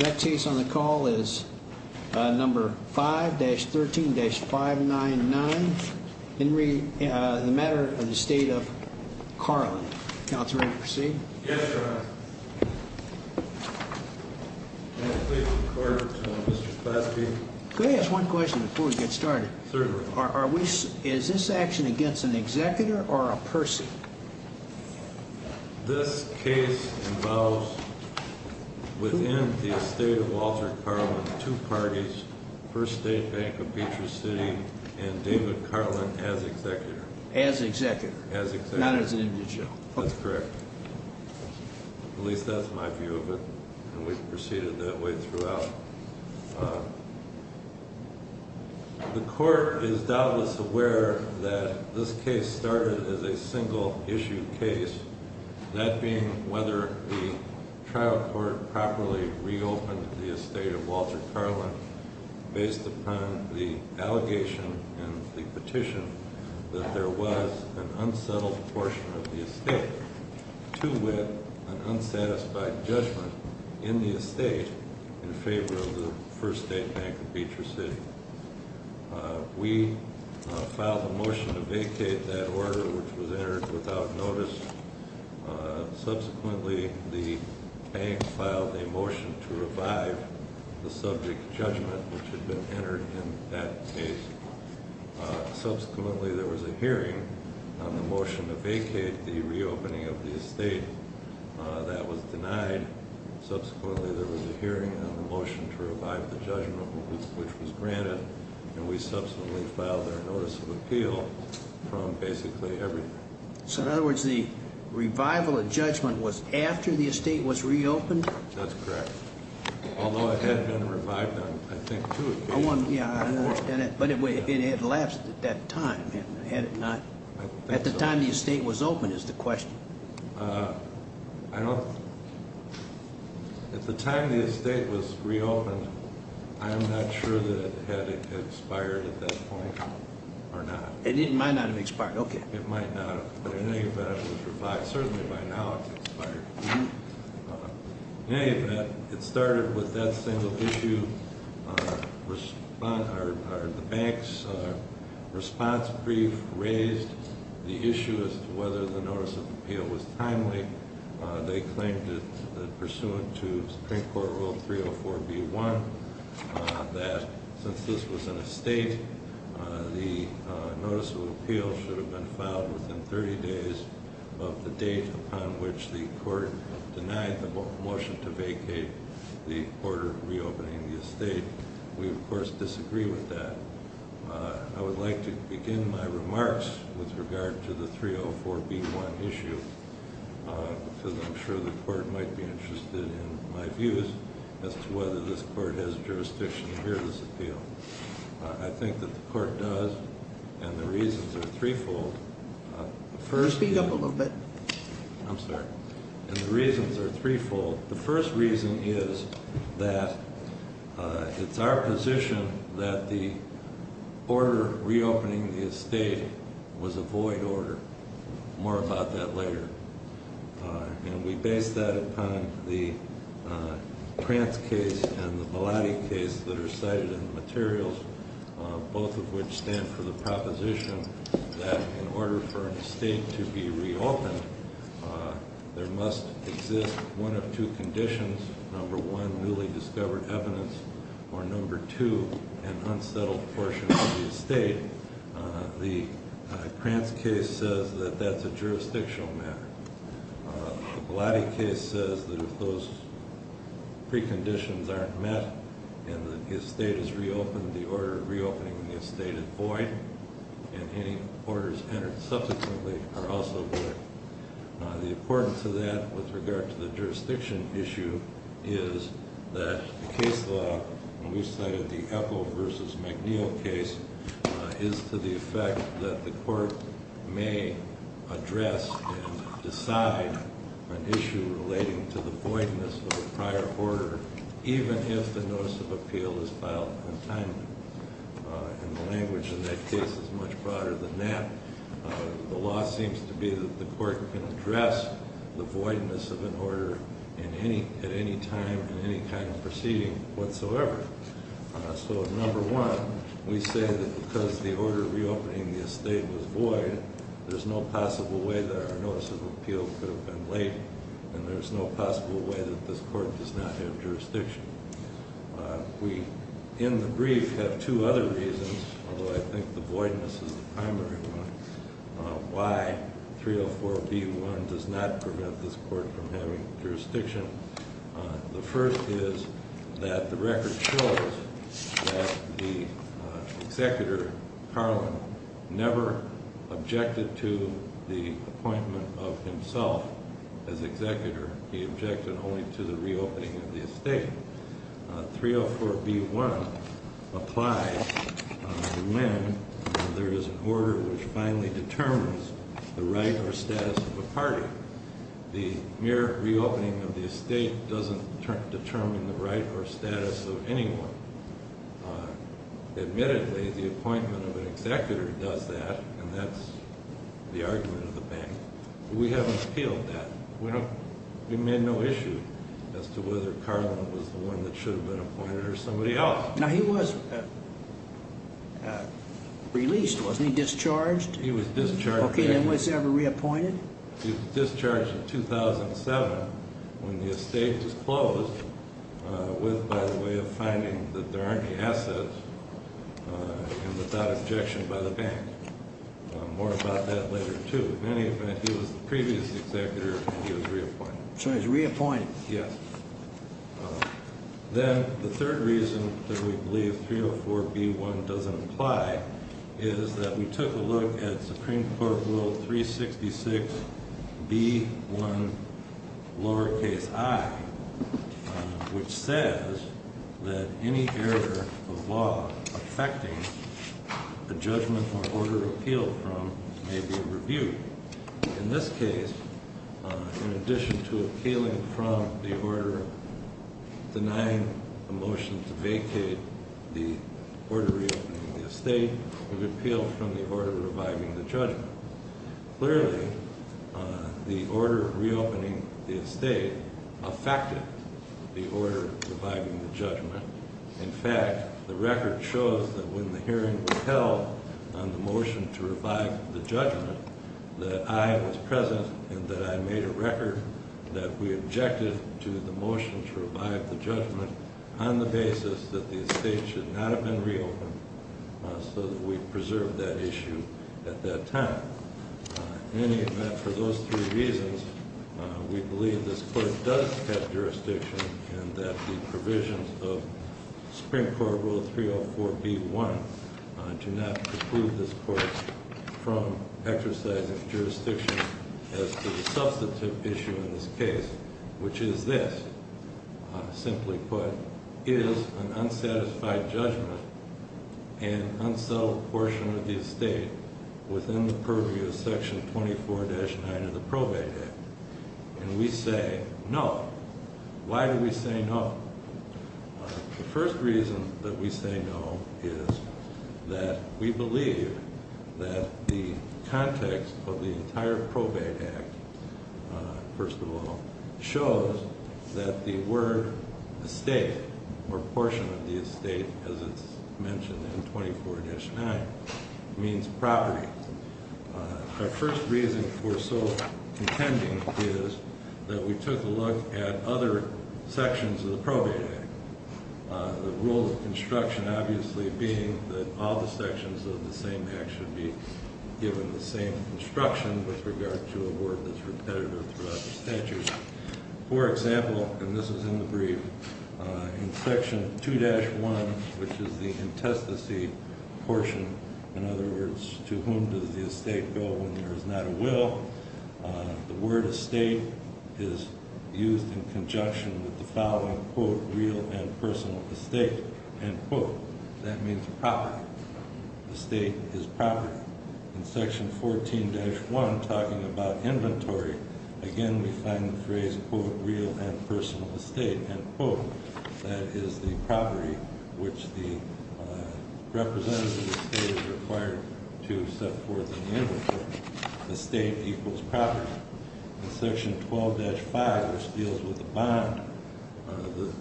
That case on the call is number 5-13-599. Henry, the Matter of the Estate of Carlen. Counselor, will you proceed? Yes, Your Honor. May I please record to Mr. Spassky? Could I ask one question before we get started? Certainly. Is this action against an executor or a person? This case involves, within the estate of Walter Carlen, two parties, First State Bank of Beecher City and David Carlen as executor. As executor, not as an individual. That's correct. At least that's my view of it, and we've proceeded that way throughout. The court is doubtless aware that this case started as a single issue case, that being whether the trial court properly reopened the estate of Walter Carlen based upon the allegation and the petition that there was an unsettled portion of the estate to with an unsatisfied judgment in the estate in favor of the First State Bank of Beecher City. We filed a motion to vacate that order, which was entered without notice. Subsequently, the bank filed a motion to revive the subject judgment, which had been entered in that case. Subsequently, there was a hearing on the motion to vacate the reopening of the estate. That was denied. Subsequently, there was a hearing on the motion to revive the judgment, which was granted, and we subsequently filed a notice of appeal from basically everyone. So in other words, the revival of judgment was after the estate was reopened? That's correct. Although it had been revived on, I think, two occasions. But it had lapsed at that time, had it not? At the time the estate was opened is the question. At the time the estate was reopened, I am not sure that it had expired at that point or not. It might not have expired. Okay. It might not have. But in any event, it was revived. Certainly by now it's expired. In any event, it started with that single issue. The bank's response brief raised the issue as to whether the notice of appeal was timely. They claimed that, pursuant to Supreme Court Rule 304B1, that since this was an estate, the notice of appeal should have been filed within 30 days of the date upon which the court denied the motion to vacate the order of reopening the estate. We, of course, disagree with that. I would like to begin my remarks with regard to the 304B1 issue, because I'm sure the court might be interested in my views as to whether this court has jurisdiction to hear this appeal. I think that the court does, and the reasons are threefold. Speak up a little bit. I'm sorry. The reasons are threefold. The first reason is that it's our position that the order reopening the estate was a void order. More about that later. And we base that upon the Krantz case and the Bellotti case that are cited in the materials, both of which stand for the proposition that in order for an estate to be reopened, there must exist one of two conditions. Number one, newly discovered evidence, or number two, an unsettled portion of the estate. The Krantz case says that that's a jurisdictional matter. The Bellotti case says that if those preconditions aren't met and the estate is reopened, the order of reopening the estate is void, and any orders entered subsequently are also void. The importance of that with regard to the jurisdiction issue is that the case law, when we cited the Epple versus McNeil case, is to the effect that the court may address and decide an issue relating to the voidness of a prior order, even if the notice of appeal is filed untimely. And the language in that case is much broader than that. The law seems to be that the court can address the voidness of an order at any time in any kind of proceeding whatsoever. So number one, we say that because the order of reopening the estate was void, there's no possible way that our notice of appeal could have been late, and there's no possible way that this court does not have jurisdiction. We, in the brief, have two other reasons, although I think the voidness is the primary one, why 304B1 does not prevent this court from having jurisdiction. The first is that the record shows that the executor, Carlin, never objected to the appointment of himself as executor. He objected only to the reopening of the estate. 304B1 applies when there is an order which finally determines the right or status of a party. The mere reopening of the estate doesn't determine the right or status of anyone. Admittedly, the appointment of an executor does that, and that's the argument of the bank. We haven't appealed that. We made no issue as to whether Carlin was the one that should have been appointed or somebody else. Now, he was released, wasn't he? Discharged? He was discharged. Okay, and was he ever reappointed? He was discharged in 2007 when the estate was closed with, by the way, a finding that there aren't any assets and without objection by the bank. More about that later, too. In any event, he was the previous executor and he was reappointed. So he was reappointed. Yes. Then the third reason that we believe 304B1 doesn't apply is that we took a look at Supreme Court Rule 366B1, lowercase i, which says that any error of law affecting the judgment or order appealed from may be reviewed. In this case, in addition to appealing from the order denying a motion to vacate the order reopening the estate, we've appealed from the order reviving the judgment. Clearly, the order reopening the estate affected the order reviving the judgment. In fact, the record shows that when the hearing was held on the motion to revive the judgment that I was present and that I made a record that we objected to the motion to revive the judgment on the basis that the estate should not have been reopened so that we preserved that issue at that time. In any event, for those three reasons, we believe this court does have jurisdiction and that the provisions of Supreme Court Rule 304B1 do not preclude this court from exercising jurisdiction as to the substantive issue in this case, which is this, simply put, is an unsatisfied judgment and unsettled portion of the estate within the purview of Section 24-9 of the Probate Act. And we say no. Why do we say no? The first reason that we say no is that we believe that the context of the entire Probate Act, first of all, shows that the word estate or portion of the estate, as it's mentioned in 24-9, means property. Our first reason for so contending is that we took a look at other sections of the Probate Act. The rule of construction, obviously, being that all the sections of the same Act should be given the same instruction with regard to a word that's repetitive throughout the statute. For example, and this is in the brief, in Section 2-1, which is the intestacy portion, in other words, to whom does the estate go when there is not a will, the word estate is used in conjunction with the following, quote, real and personal estate, end quote. That means property. Estate is property. In Section 14-1, talking about inventory, again, we find the phrase, quote, real and personal estate, end quote. That is the property which the representative of the state is required to set forth in the inventory. Estate equals property. In Section 12-5, which deals with the bond,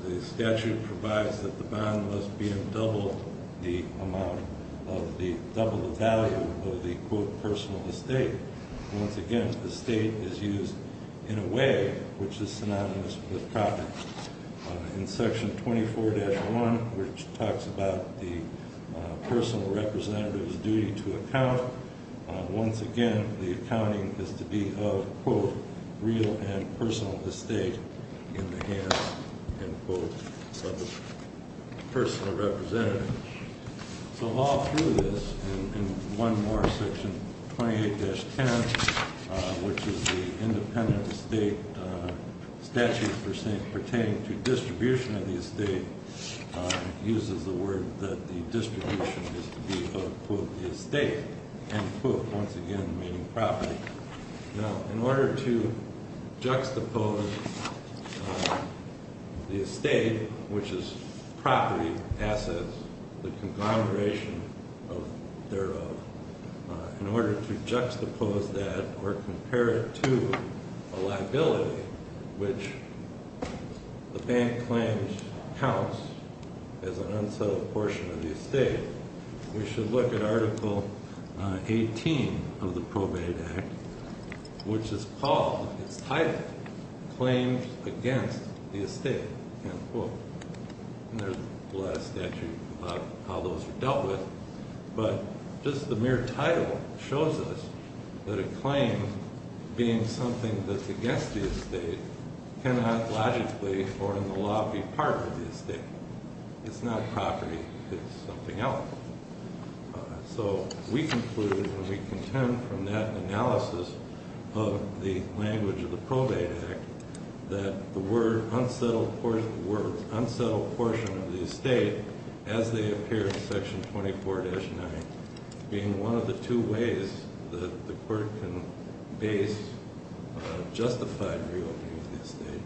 the statute provides that the bond must be in double the amount of the double the value of the, quote, personal estate. Once again, estate is used in a way which is synonymous with property. In Section 24-1, which talks about the personal representative's duty to account, once again, the accounting is to be of, quote, real and personal estate in the hands, end quote, of the personal representative. So all through this, and one more, Section 28-10, which is the independent estate statute pertaining to distribution of the estate, uses the word that the distribution is to be of, quote, the estate, end quote, once again, meaning property. Now, in order to juxtapose the estate, which is property, assets, the conglomeration of thereof, in order to juxtapose that or compare it to a liability, which the bank claims counts as an unsettled portion of the estate, we should look at Article 18 of the Probate Act, which is called, its title, Claims Against the Estate, end quote. And there's a lot of statute about how those are dealt with, but just the mere title shows us that a claim being something that's against the estate cannot logically, or in the law, be part of the estate. It's not property. It's something else. So we conclude, and we contend from that analysis of the language of the Probate Act, that the word unsettled portion of the estate, as they appear in Section 24-9, being one of the two ways that the court can base justified re-opening of the estate,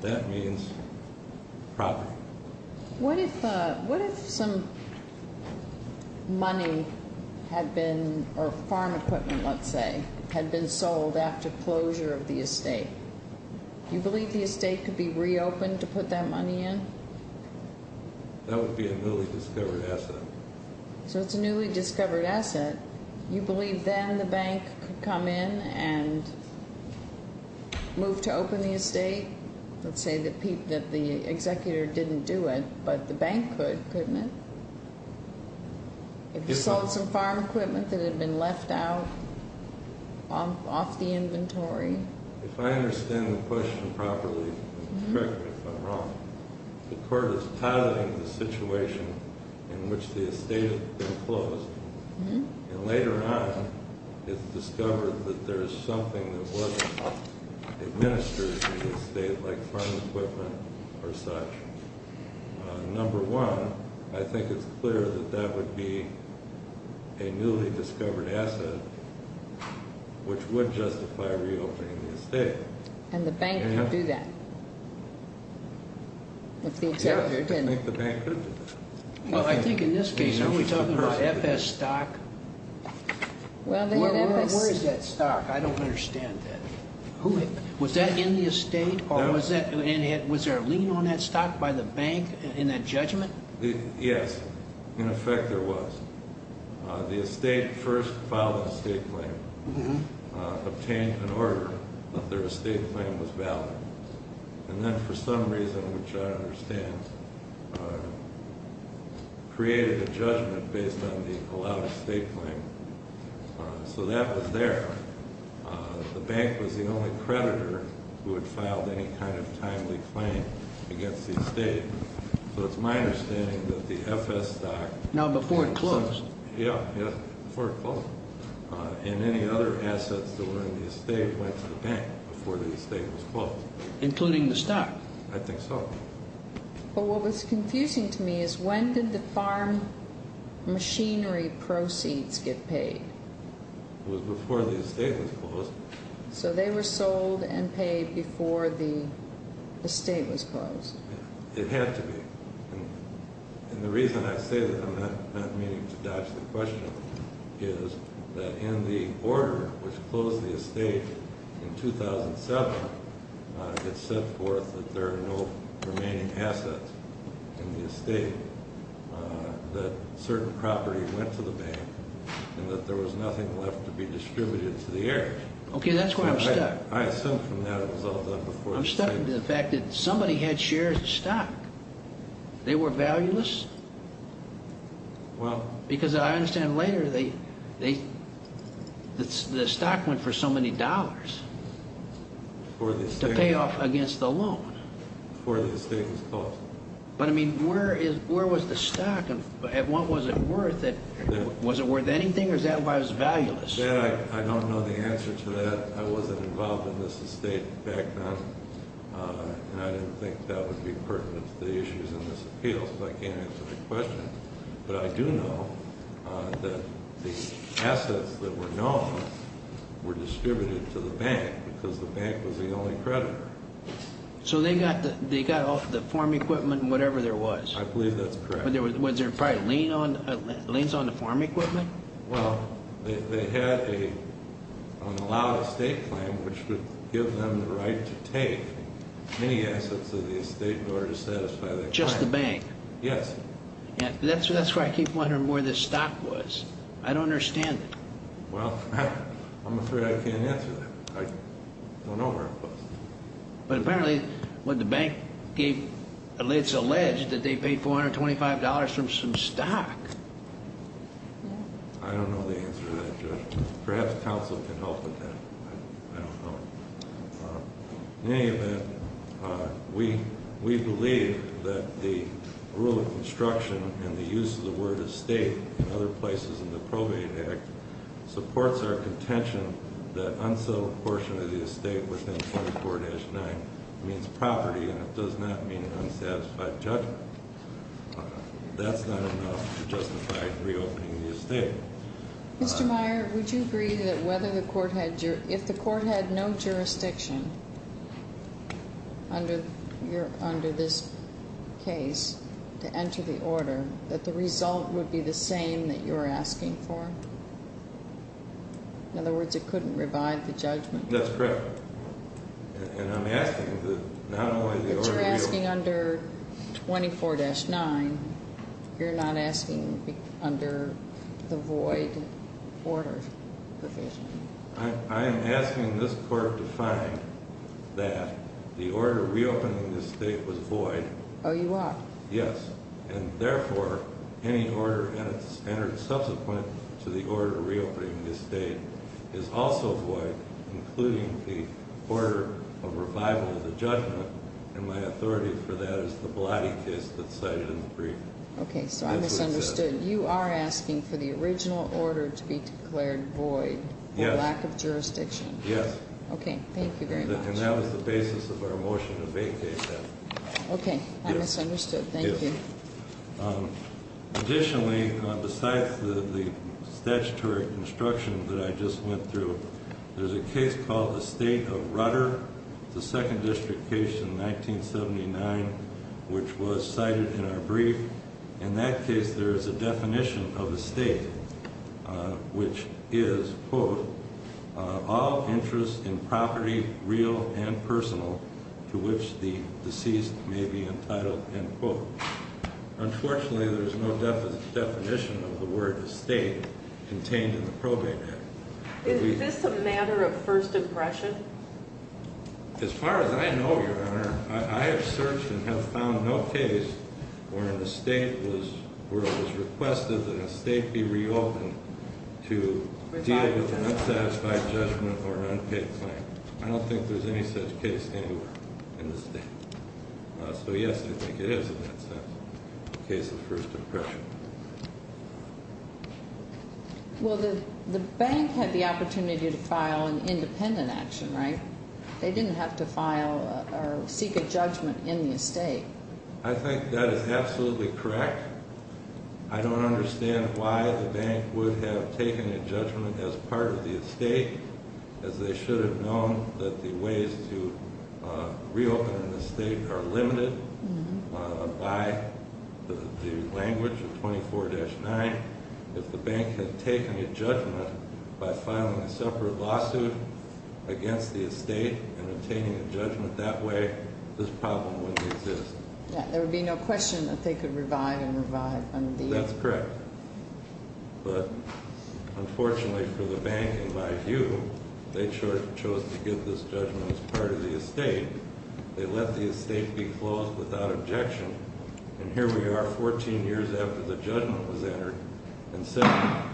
that means property. What if some money had been, or farm equipment, let's say, had been sold after closure of the estate? Do you believe the estate could be re-opened to put that money in? That would be a newly discovered asset. So it's a newly discovered asset. You believe then the bank could come in and move to open the estate? Let's say that the executor didn't do it, but the bank could, couldn't it? If you sold some farm equipment that had been left out, off the inventory? If I understand the question properly, correct me if I'm wrong, the court is piloting the situation in which the estate had been closed, and later on it's discovered that there's something that wasn't administered to the estate, like farm equipment or such. Number one, I think it's clear that that would be a newly discovered asset, which would justify re-opening the estate. And the bank could do that, if the executor didn't. Yeah, I think the bank could do that. Well, I think in this case, are we talking about FS stock? Where is that stock? I don't understand that. Was that in the estate? Was there a lien on that stock by the bank in that judgment? Yes, in effect there was. The estate first filed an estate claim, obtained an order that their estate claim was valid, and then for some reason, which I understand, created a judgment based on the allowed estate claim. So that was there. The bank was the only creditor who had filed any kind of timely claim against the estate. So it's my understanding that the FS stock... No, before it closed. Yeah, before it closed. And any other assets that were in the estate went to the bank before the estate was closed. Including the stock? I think so. But what was confusing to me is when did the farm machinery proceeds get paid? It was before the estate was closed. So they were sold and paid before the estate was closed. It had to be. And the reason I say that, I'm not meaning to dodge the question, is that in the order which closed the estate in 2007, it said forth that there are no remaining assets in the estate, that certain property went to the bank, and that there was nothing left to be distributed to the heirs. Okay, that's where I'm stuck. I assume from that it was all done before the estate... I'm stuck with the fact that somebody had shared stock. They were valueless? Well... Because I understand later, the stock went for so many dollars to pay off against the loan. Before the estate was closed. But I mean, where was the stock and what was it worth? Was it worth anything or was that why it was valueless? I don't know the answer to that. I wasn't involved in this estate back then, and I didn't think that would be pertinent to the issues in this appeal, so I can't answer the question. But I do know that the assets that were known were distributed to the bank because the bank was the only creditor. So they got off the farm equipment and whatever there was? I believe that's correct. Was there probably liens on the farm equipment? Well, they had an unallowed estate claim, which would give them the right to take many assets of the estate in order to satisfy their claim. Just the bank? Yes. That's why I keep wondering where the stock was. I don't understand it. Well, I'm afraid I can't answer that. I don't know where it was. But apparently the bank gave... it's alleged that they paid $425 from some stock. I don't know the answer to that, Judge. Perhaps counsel can help with that. I don't know. In any event, we believe that the rule of construction and the use of the word estate in other places in the Probate Act supports our contention that unsettled portion of the estate within 24-9 means property and it does not mean unsatisfied judgment. That's not enough to justify reopening the estate. Mr. Meyer, would you agree that if the court had no jurisdiction under this case to enter the order, that the result would be the same that you're asking for? In other words, it couldn't revive the judgment? That's correct. And I'm asking that not only the order... You're asking under 24-9. You're not asking under the void order provision. I am asking this court to find that the order reopening the estate was void. Oh, you are? Yes. And therefore, any order that's entered subsequent to the order reopening the estate is also void, including the order of revival of the judgment, and my authority for that is the Blatty case that's cited in the brief. Okay, so I misunderstood. You are asking for the original order to be declared void for lack of jurisdiction? Yes. Okay, thank you very much. And that was the basis of our motion to vacate that. Okay, I misunderstood. Thank you. Additionally, besides the statutory construction that I just went through, there's a case called Estate of Rudder, the second district case in 1979, which was cited in our brief. In that case, there is a definition of estate, which is, quote, all interest in property real and personal to which the deceased may be entitled, end quote. Unfortunately, there's no definition of the word estate contained in the probate act. Is this a matter of first impression? As far as I know, Your Honor, I have searched and have found no case where an estate was requested that an estate be reopened to deal with an unsatisfied judgment or an unpaid claim. I don't think there's any such case anywhere in the state. So, yes, I think it is, in that sense, a case of first impression. Well, the bank had the opportunity to file an independent action, right? They didn't have to file or seek a judgment in the estate. I think that is absolutely correct. I don't understand why the bank would have taken a judgment as part of the estate, as they should have known that the ways to reopen an estate are limited by the language of 24-9. If the bank had taken a judgment by filing a separate lawsuit against the estate and obtaining a judgment that way, this problem wouldn't exist. There would be no question that they could revive and revive. That's correct. But, unfortunately for the bank, in my view, they chose to give this judgment as part of the estate. They let the estate be closed without objection. And here we are, 14 years after the judgment was entered, and seven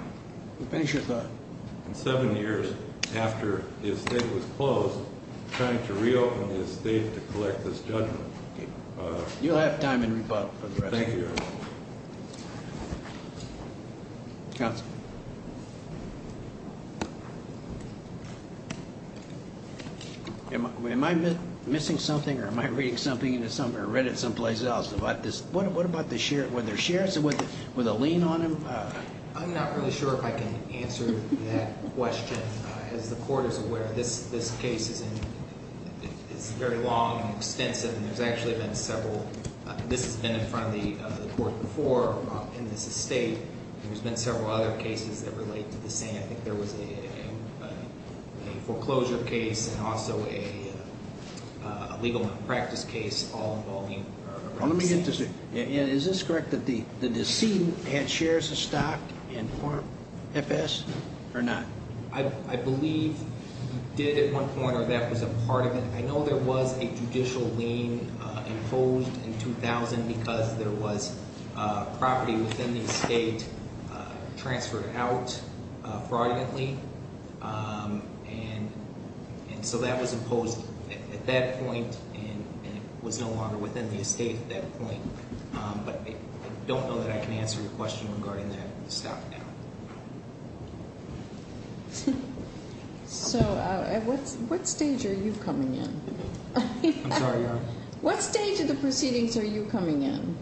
years after the estate was closed, trying to reopen the estate to collect this judgment. You'll have time in rebuttal for the rest of your hearing. Thank you, Your Honor. Counsel. Am I missing something, or am I reading something into somewhere? I read it someplace else. What about the sheriff? Were there sheriffs with a lien on them? I'm not really sure if I can answer that question. As the court is aware, this case is very long and extensive, and there's actually been several. This has been in front of the court before in this estate. There's been several other cases that relate to the same. I think there was a foreclosure case and also a legal impractice case all involving the estate. Is this correct that the decedent had shares of stock in Farm FS or not? I believe he did at one point, or that was a part of it. I know there was a judicial lien imposed in 2000 because there was property within the estate transferred out fraudulently. And so that was imposed at that point, and it was no longer within the estate at that point. But I don't know that I can answer your question regarding that stock now. So at what stage are you coming in? I'm sorry, Your Honor? What stage of the proceedings are you coming in?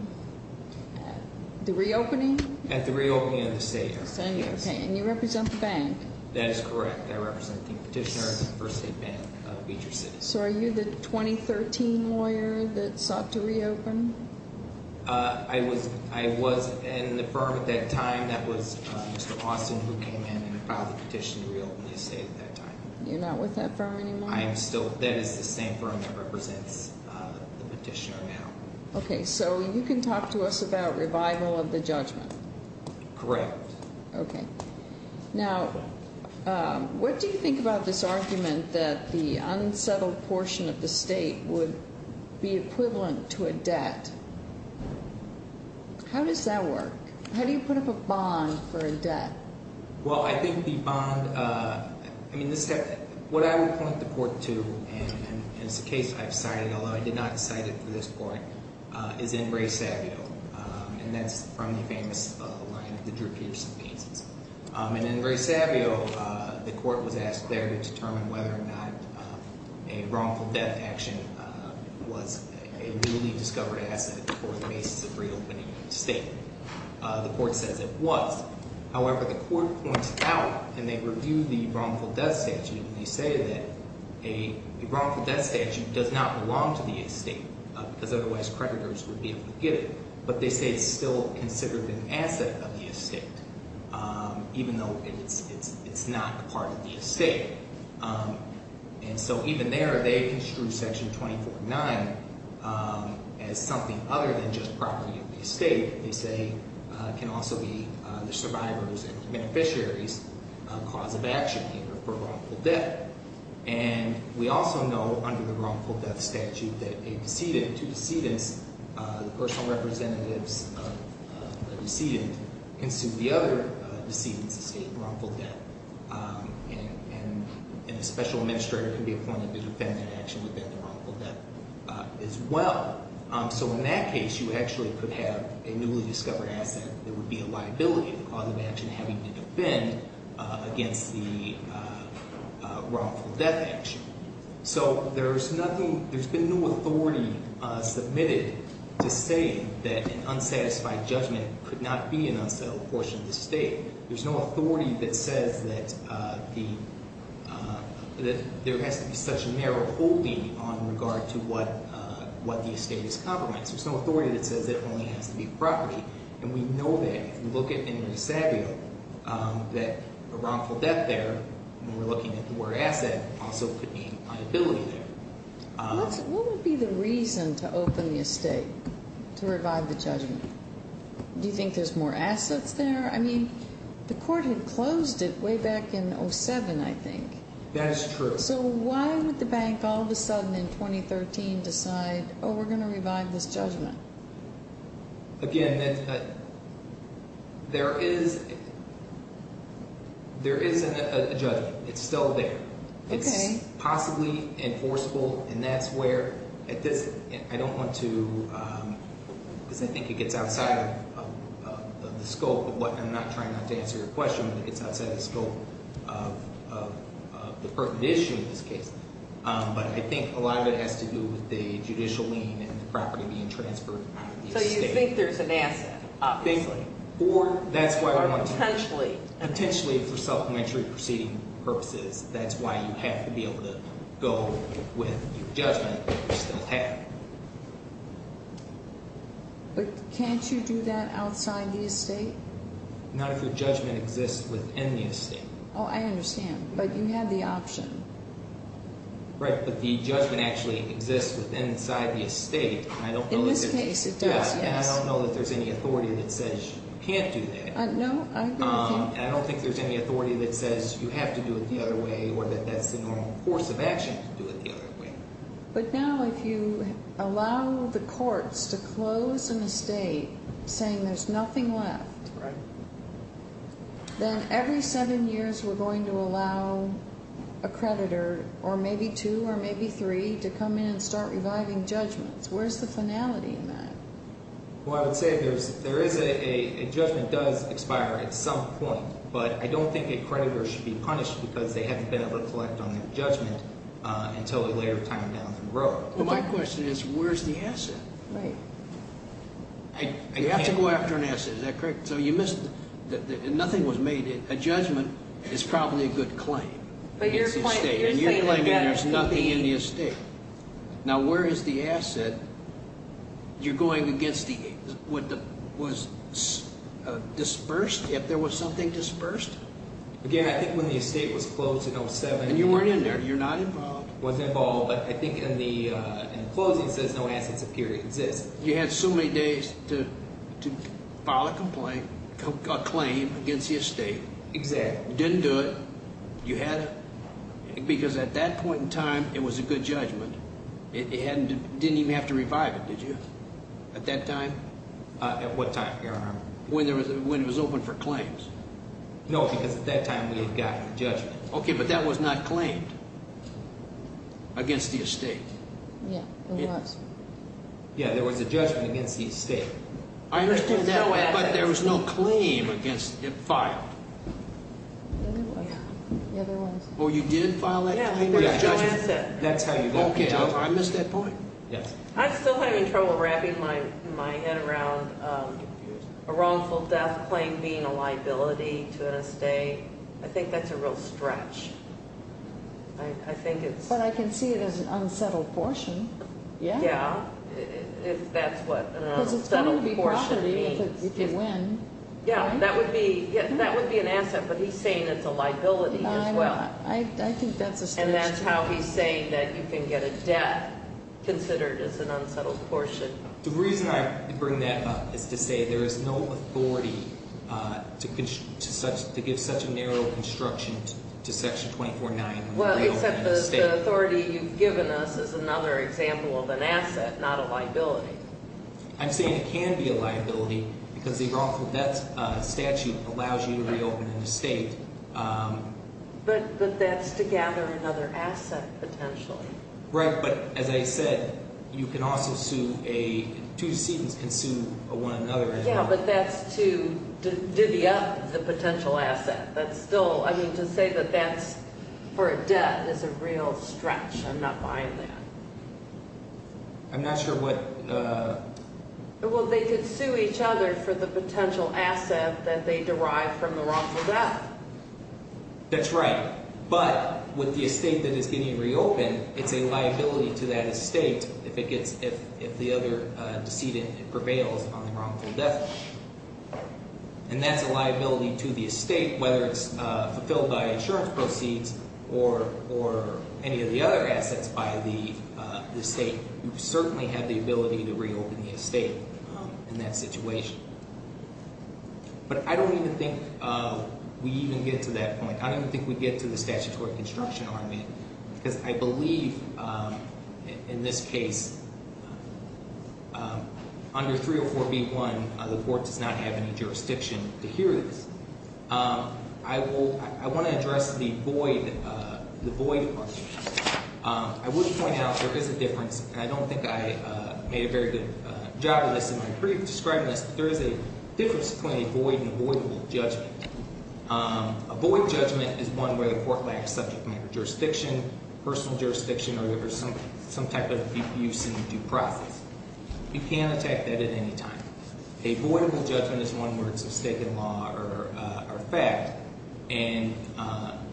The reopening? At the reopening of the estate, yes. And you represent the bank? That is correct. I represent the Petitioner at the First State Bank of Beecher City. So are you the 2013 lawyer that sought to reopen? I was in the firm at that time. That was Mr. Austin who came in and filed the petition to reopen the estate at that time. You're not with that firm anymore? I am still. That is the same firm that represents the Petitioner now. Okay, so you can talk to us about revival of the judgment? Correct. Okay. Now, what do you think about this argument that the unsettled portion of the estate would be equivalent to a debt? How does that work? How do you put up a bond for a debt? Well, I think the bond—I mean, what I would point the court to, and it's a case I've cited, although I did not cite it for this court, is in Ray Savio, and that's from the famous line of the Drew Pearson pieces. And in Ray Savio, the court was asked there to determine whether or not a wrongful death action was a newly discovered asset for the basis of reopening the estate. The court says it was. However, the court points out, and they review the wrongful death statute, and they say that a wrongful death statute does not belong to the estate because otherwise creditors would be able to get it. But they say it's still considered an asset of the estate, even though it's not part of the estate. And so even there, they construe Section 24.9 as something other than just property of the estate. They say it can also be the survivor's and beneficiary's cause of action for wrongful death. And we also know under the wrongful death statute that a decedent, two decedents, the personal representatives of the decedent, can sue the other decedent's estate wrongful death. And a special administrator can be appointed to defend that action with that wrongful death as well. So in that case, you actually could have a newly discovered asset that would be a liability of the cause of action having to defend against the wrongful death action. So there's nothing, there's been no authority submitted to say that an unsatisfied judgment could not be an unsettled portion of the estate. There's no authority that says that there has to be such a narrow holding on regard to what the estate is compromised. There's no authority that says it only has to be property. And we know that. If you look at it in DeSabio, that a wrongful death there, when we're looking at the word asset, also could be a liability there. What would be the reason to open the estate to revive the judgment? Do you think there's more assets there? I mean, the court had closed it way back in 07, I think. That is true. So why would the bank all of a sudden in 2013 decide, oh, we're going to revive this judgment? Again, there is a judgment. It's still there. It's possibly enforceable. And that's where, at this, I don't want to, because I think it gets outside of the scope of what, and I'm not trying not to answer your question, but it gets outside the scope of the pertinent issue in this case. But I think a lot of it has to do with the judicial lien and the property being transferred. So you think there's an asset, obviously. Or potentially. Potentially for supplementary proceeding purposes. That's why you have to be able to go with your judgment that you still have. But can't you do that outside the estate? Not if your judgment exists within the estate. Oh, I understand. But you have the option. Right, but the judgment actually exists inside the estate. In this case, it does, yes. And I don't know that there's any authority that says you can't do that. No. And I don't think there's any authority that says you have to do it the other way or that that's the normal course of action to do it the other way. But now if you allow the courts to close an estate saying there's nothing left. Right. Then every seven years we're going to allow a creditor, or maybe two or maybe three, to come in and start reviving judgments. Where's the finality in that? Well, I would say if there is a judgment, it does expire at some point. But I don't think a creditor should be punished because they haven't been able to collect on their judgment until a later time down the road. Well, my question is where's the asset? Right. You have to go after an asset. Is that correct? So you missed. Nothing was made. A judgment is probably a good claim. But you're claiming there's nothing in the estate. Now, where is the asset? You're going against what was disbursed, if there was something disbursed? Again, I think when the estate was closed in 07. And you weren't in there. You're not involved. Wasn't involved. But I think in the closing it says no assets appear to exist. You had so many days to file a complaint, a claim against the estate. Exactly. Didn't do it. You had to. Because at that point in time, it was a good judgment. It didn't even have to revive it, did you, at that time? At what time, Your Honor? When it was open for claims. No, because at that time we had gotten a judgment. Okay, but that was not claimed against the estate. Yeah, it was. Yeah, there was a judgment against the estate. I understand that, but there was no claim against it filed. Yeah, there was. Oh, you did file that claim? Yeah, there's no asset. Okay, I missed that point. I'm still having trouble wrapping my head around a wrongful death claim being a liability to an estate. I think that's a real stretch. But I can see it as an unsettled portion. Yeah, that's what an unsettled portion means. Because it's going to be property if you win. Yeah, that would be an asset, but he's saying it's a liability as well. I think that's a stretch. And that's how he's saying that you can get a death considered as an unsettled portion. The reason I bring that up is to say there is no authority to give such a narrow construction to Section 24-9. Well, except the authority you've given us is another example of an asset, not a liability. I'm saying it can be a liability because the wrongful death statute allows you to reopen an estate. But that's to gather another asset potentially. Right, but as I said, you can also sue a – two decedents can sue one another as well. Yeah, but that's to divvy up the potential asset. That's still – I mean to say that that's for a debt is a real stretch. I'm not buying that. I'm not sure what – Well, they could sue each other for the potential asset that they derive from the wrongful death. That's right, but with the estate that is getting reopened, it's a liability to that estate if it gets – if the other decedent prevails on the wrongful death. And that's a liability to the estate, whether it's fulfilled by insurance proceeds or any of the other assets by the estate. You certainly have the ability to reopen the estate in that situation. But I don't even think we even get to that point. I don't even think we get to the statutory construction argument because I believe in this case under 304B1 the court does not have any jurisdiction to hear this. I will – I want to address the void part. I would point out there is a difference, and I don't think I made a very good job of this in my brief describing this, but there is a difference between a void and avoidable judgment. A void judgment is one where the court lacks subject matter jurisdiction, personal jurisdiction, or there's some type of use in the due process. You can't attack that at any time. A voidable judgment is one where it's a stake in law or fact, and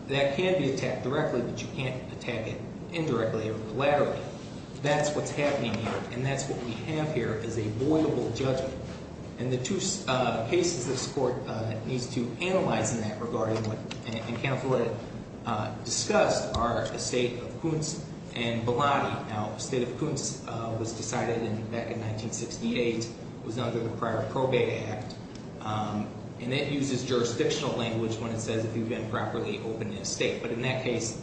that can be attacked directly, but you can't attack it indirectly or collaterally. That's what's happening here, and that's what we have here is a voidable judgment. And the two cases this court needs to analyze in that regard and kind of what it discussed are estate of Kuntz and Belotti. Now, estate of Kuntz was decided back in 1968. It was under the prior Probate Act, and that uses jurisdictional language when it says if you've improperly opened an estate. But in that case,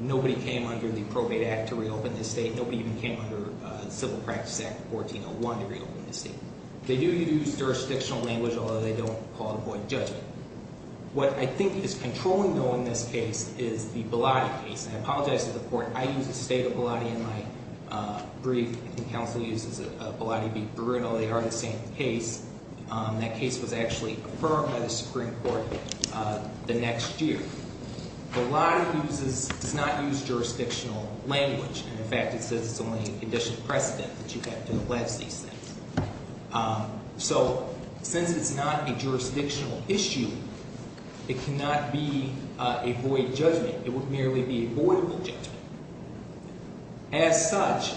nobody came under the Probate Act to reopen the estate. Nobody even came under the Civil Practice Act of 1401 to reopen the estate. They do use jurisdictional language, although they don't call it a void judgment. What I think is controlling, though, in this case is the Belotti case. I apologize to the court. I use the estate of Belotti in my brief. I think counsel uses Belotti v. Bruno. They are the same case. That case was actually confirmed by the Supreme Court the next year. Belotti does not use jurisdictional language. In fact, it says it's only a conditional precedent that you have to allege these things. So since it's not a jurisdictional issue, it cannot be a void judgment. It would merely be a voidable judgment. As such,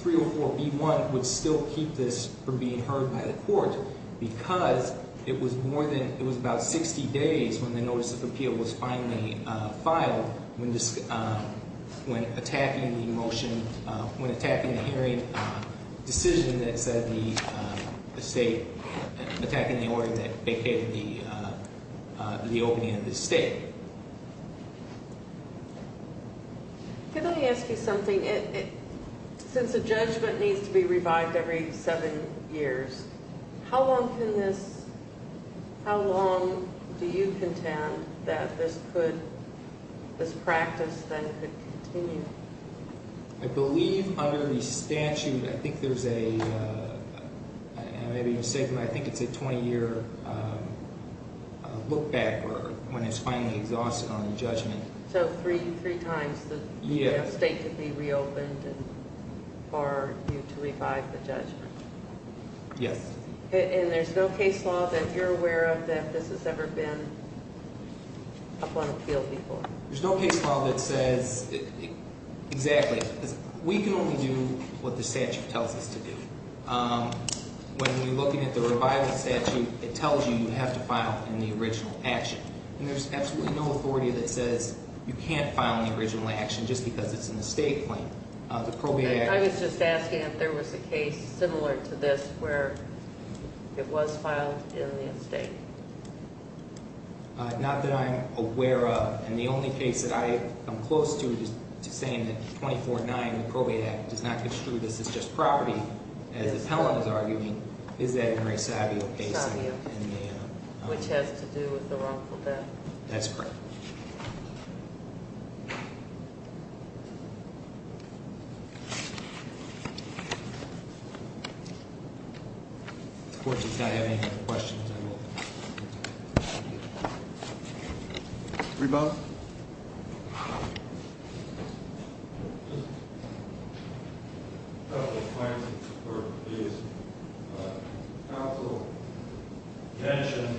304b1 would still keep this from being heard by the court because it was more than – when the notice of appeal was finally filed when attacking the motion – when attacking the hearing decision that said the estate – attacking the order that became the opening of the estate. Can I ask you something? Since a judgment needs to be revived every seven years, how long can this – how long do you contend that this could – this practice then could continue? I believe under the statute I think there's a – I think it's a 20-year look-back when it's finally exhausted on the judgment. So three times the estate could be reopened for you to revive the judgment? Yes. And there's no case law that you're aware of that this has ever been up on appeal before? There's no case law that says – exactly. We can only do what the statute tells us to do. When you're looking at the revival statute, it tells you you have to file in the original action. And there's absolutely no authority that says you can't file in the original action just because it's an estate claim. I was just asking if there was a case similar to this where it was filed in the estate. Not that I'm aware of. And the only case that I am close to saying that 24-9, the Probate Act, does not construe this as just property, as the appellant is arguing, is that Mary Savio case. Savio, which has to do with the wrongful death. That's correct. Thank you. If the Court does not have any more questions, I will. Rebo? Rebo? Just a couple of points before, please. The counsel mentioned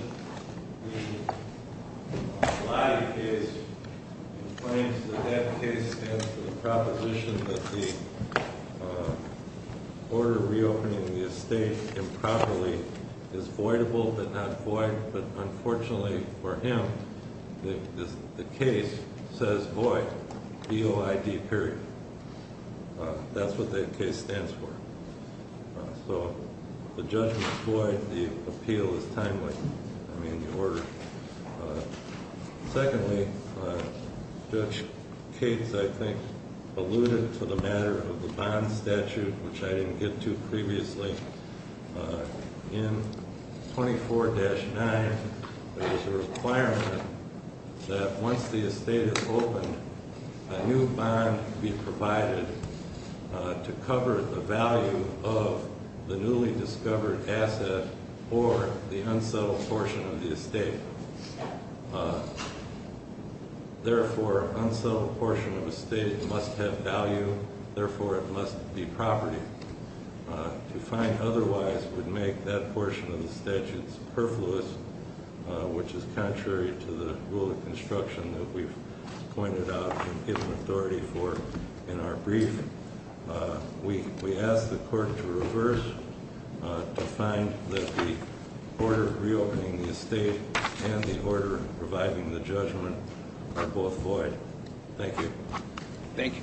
the Lottie case and claims that that case stands for the proposition that the order reopening the estate improperly is voidable but not void, but unfortunately for him, the case says void, V-O-I-D, period. That's what that case stands for. So if the judgment is void, the appeal is timely, I mean, the order. Secondly, Judge Cates, I think, alluded to the matter of the bond statute, which I didn't get to previously. In 24-9, there is a requirement that once the estate is opened, a new bond be provided to cover the value of the newly discovered asset or the unsettled portion of the estate. Therefore, unsettled portion of the estate must have value, therefore it must be property. To find otherwise would make that portion of the statute superfluous, which is contrary to the rule of construction that we've pointed out and given authority for in our brief. We ask the Court to reverse, to find that the order reopening the estate and the order reviving the judgment are both void. Thank you. Thank you, counsel.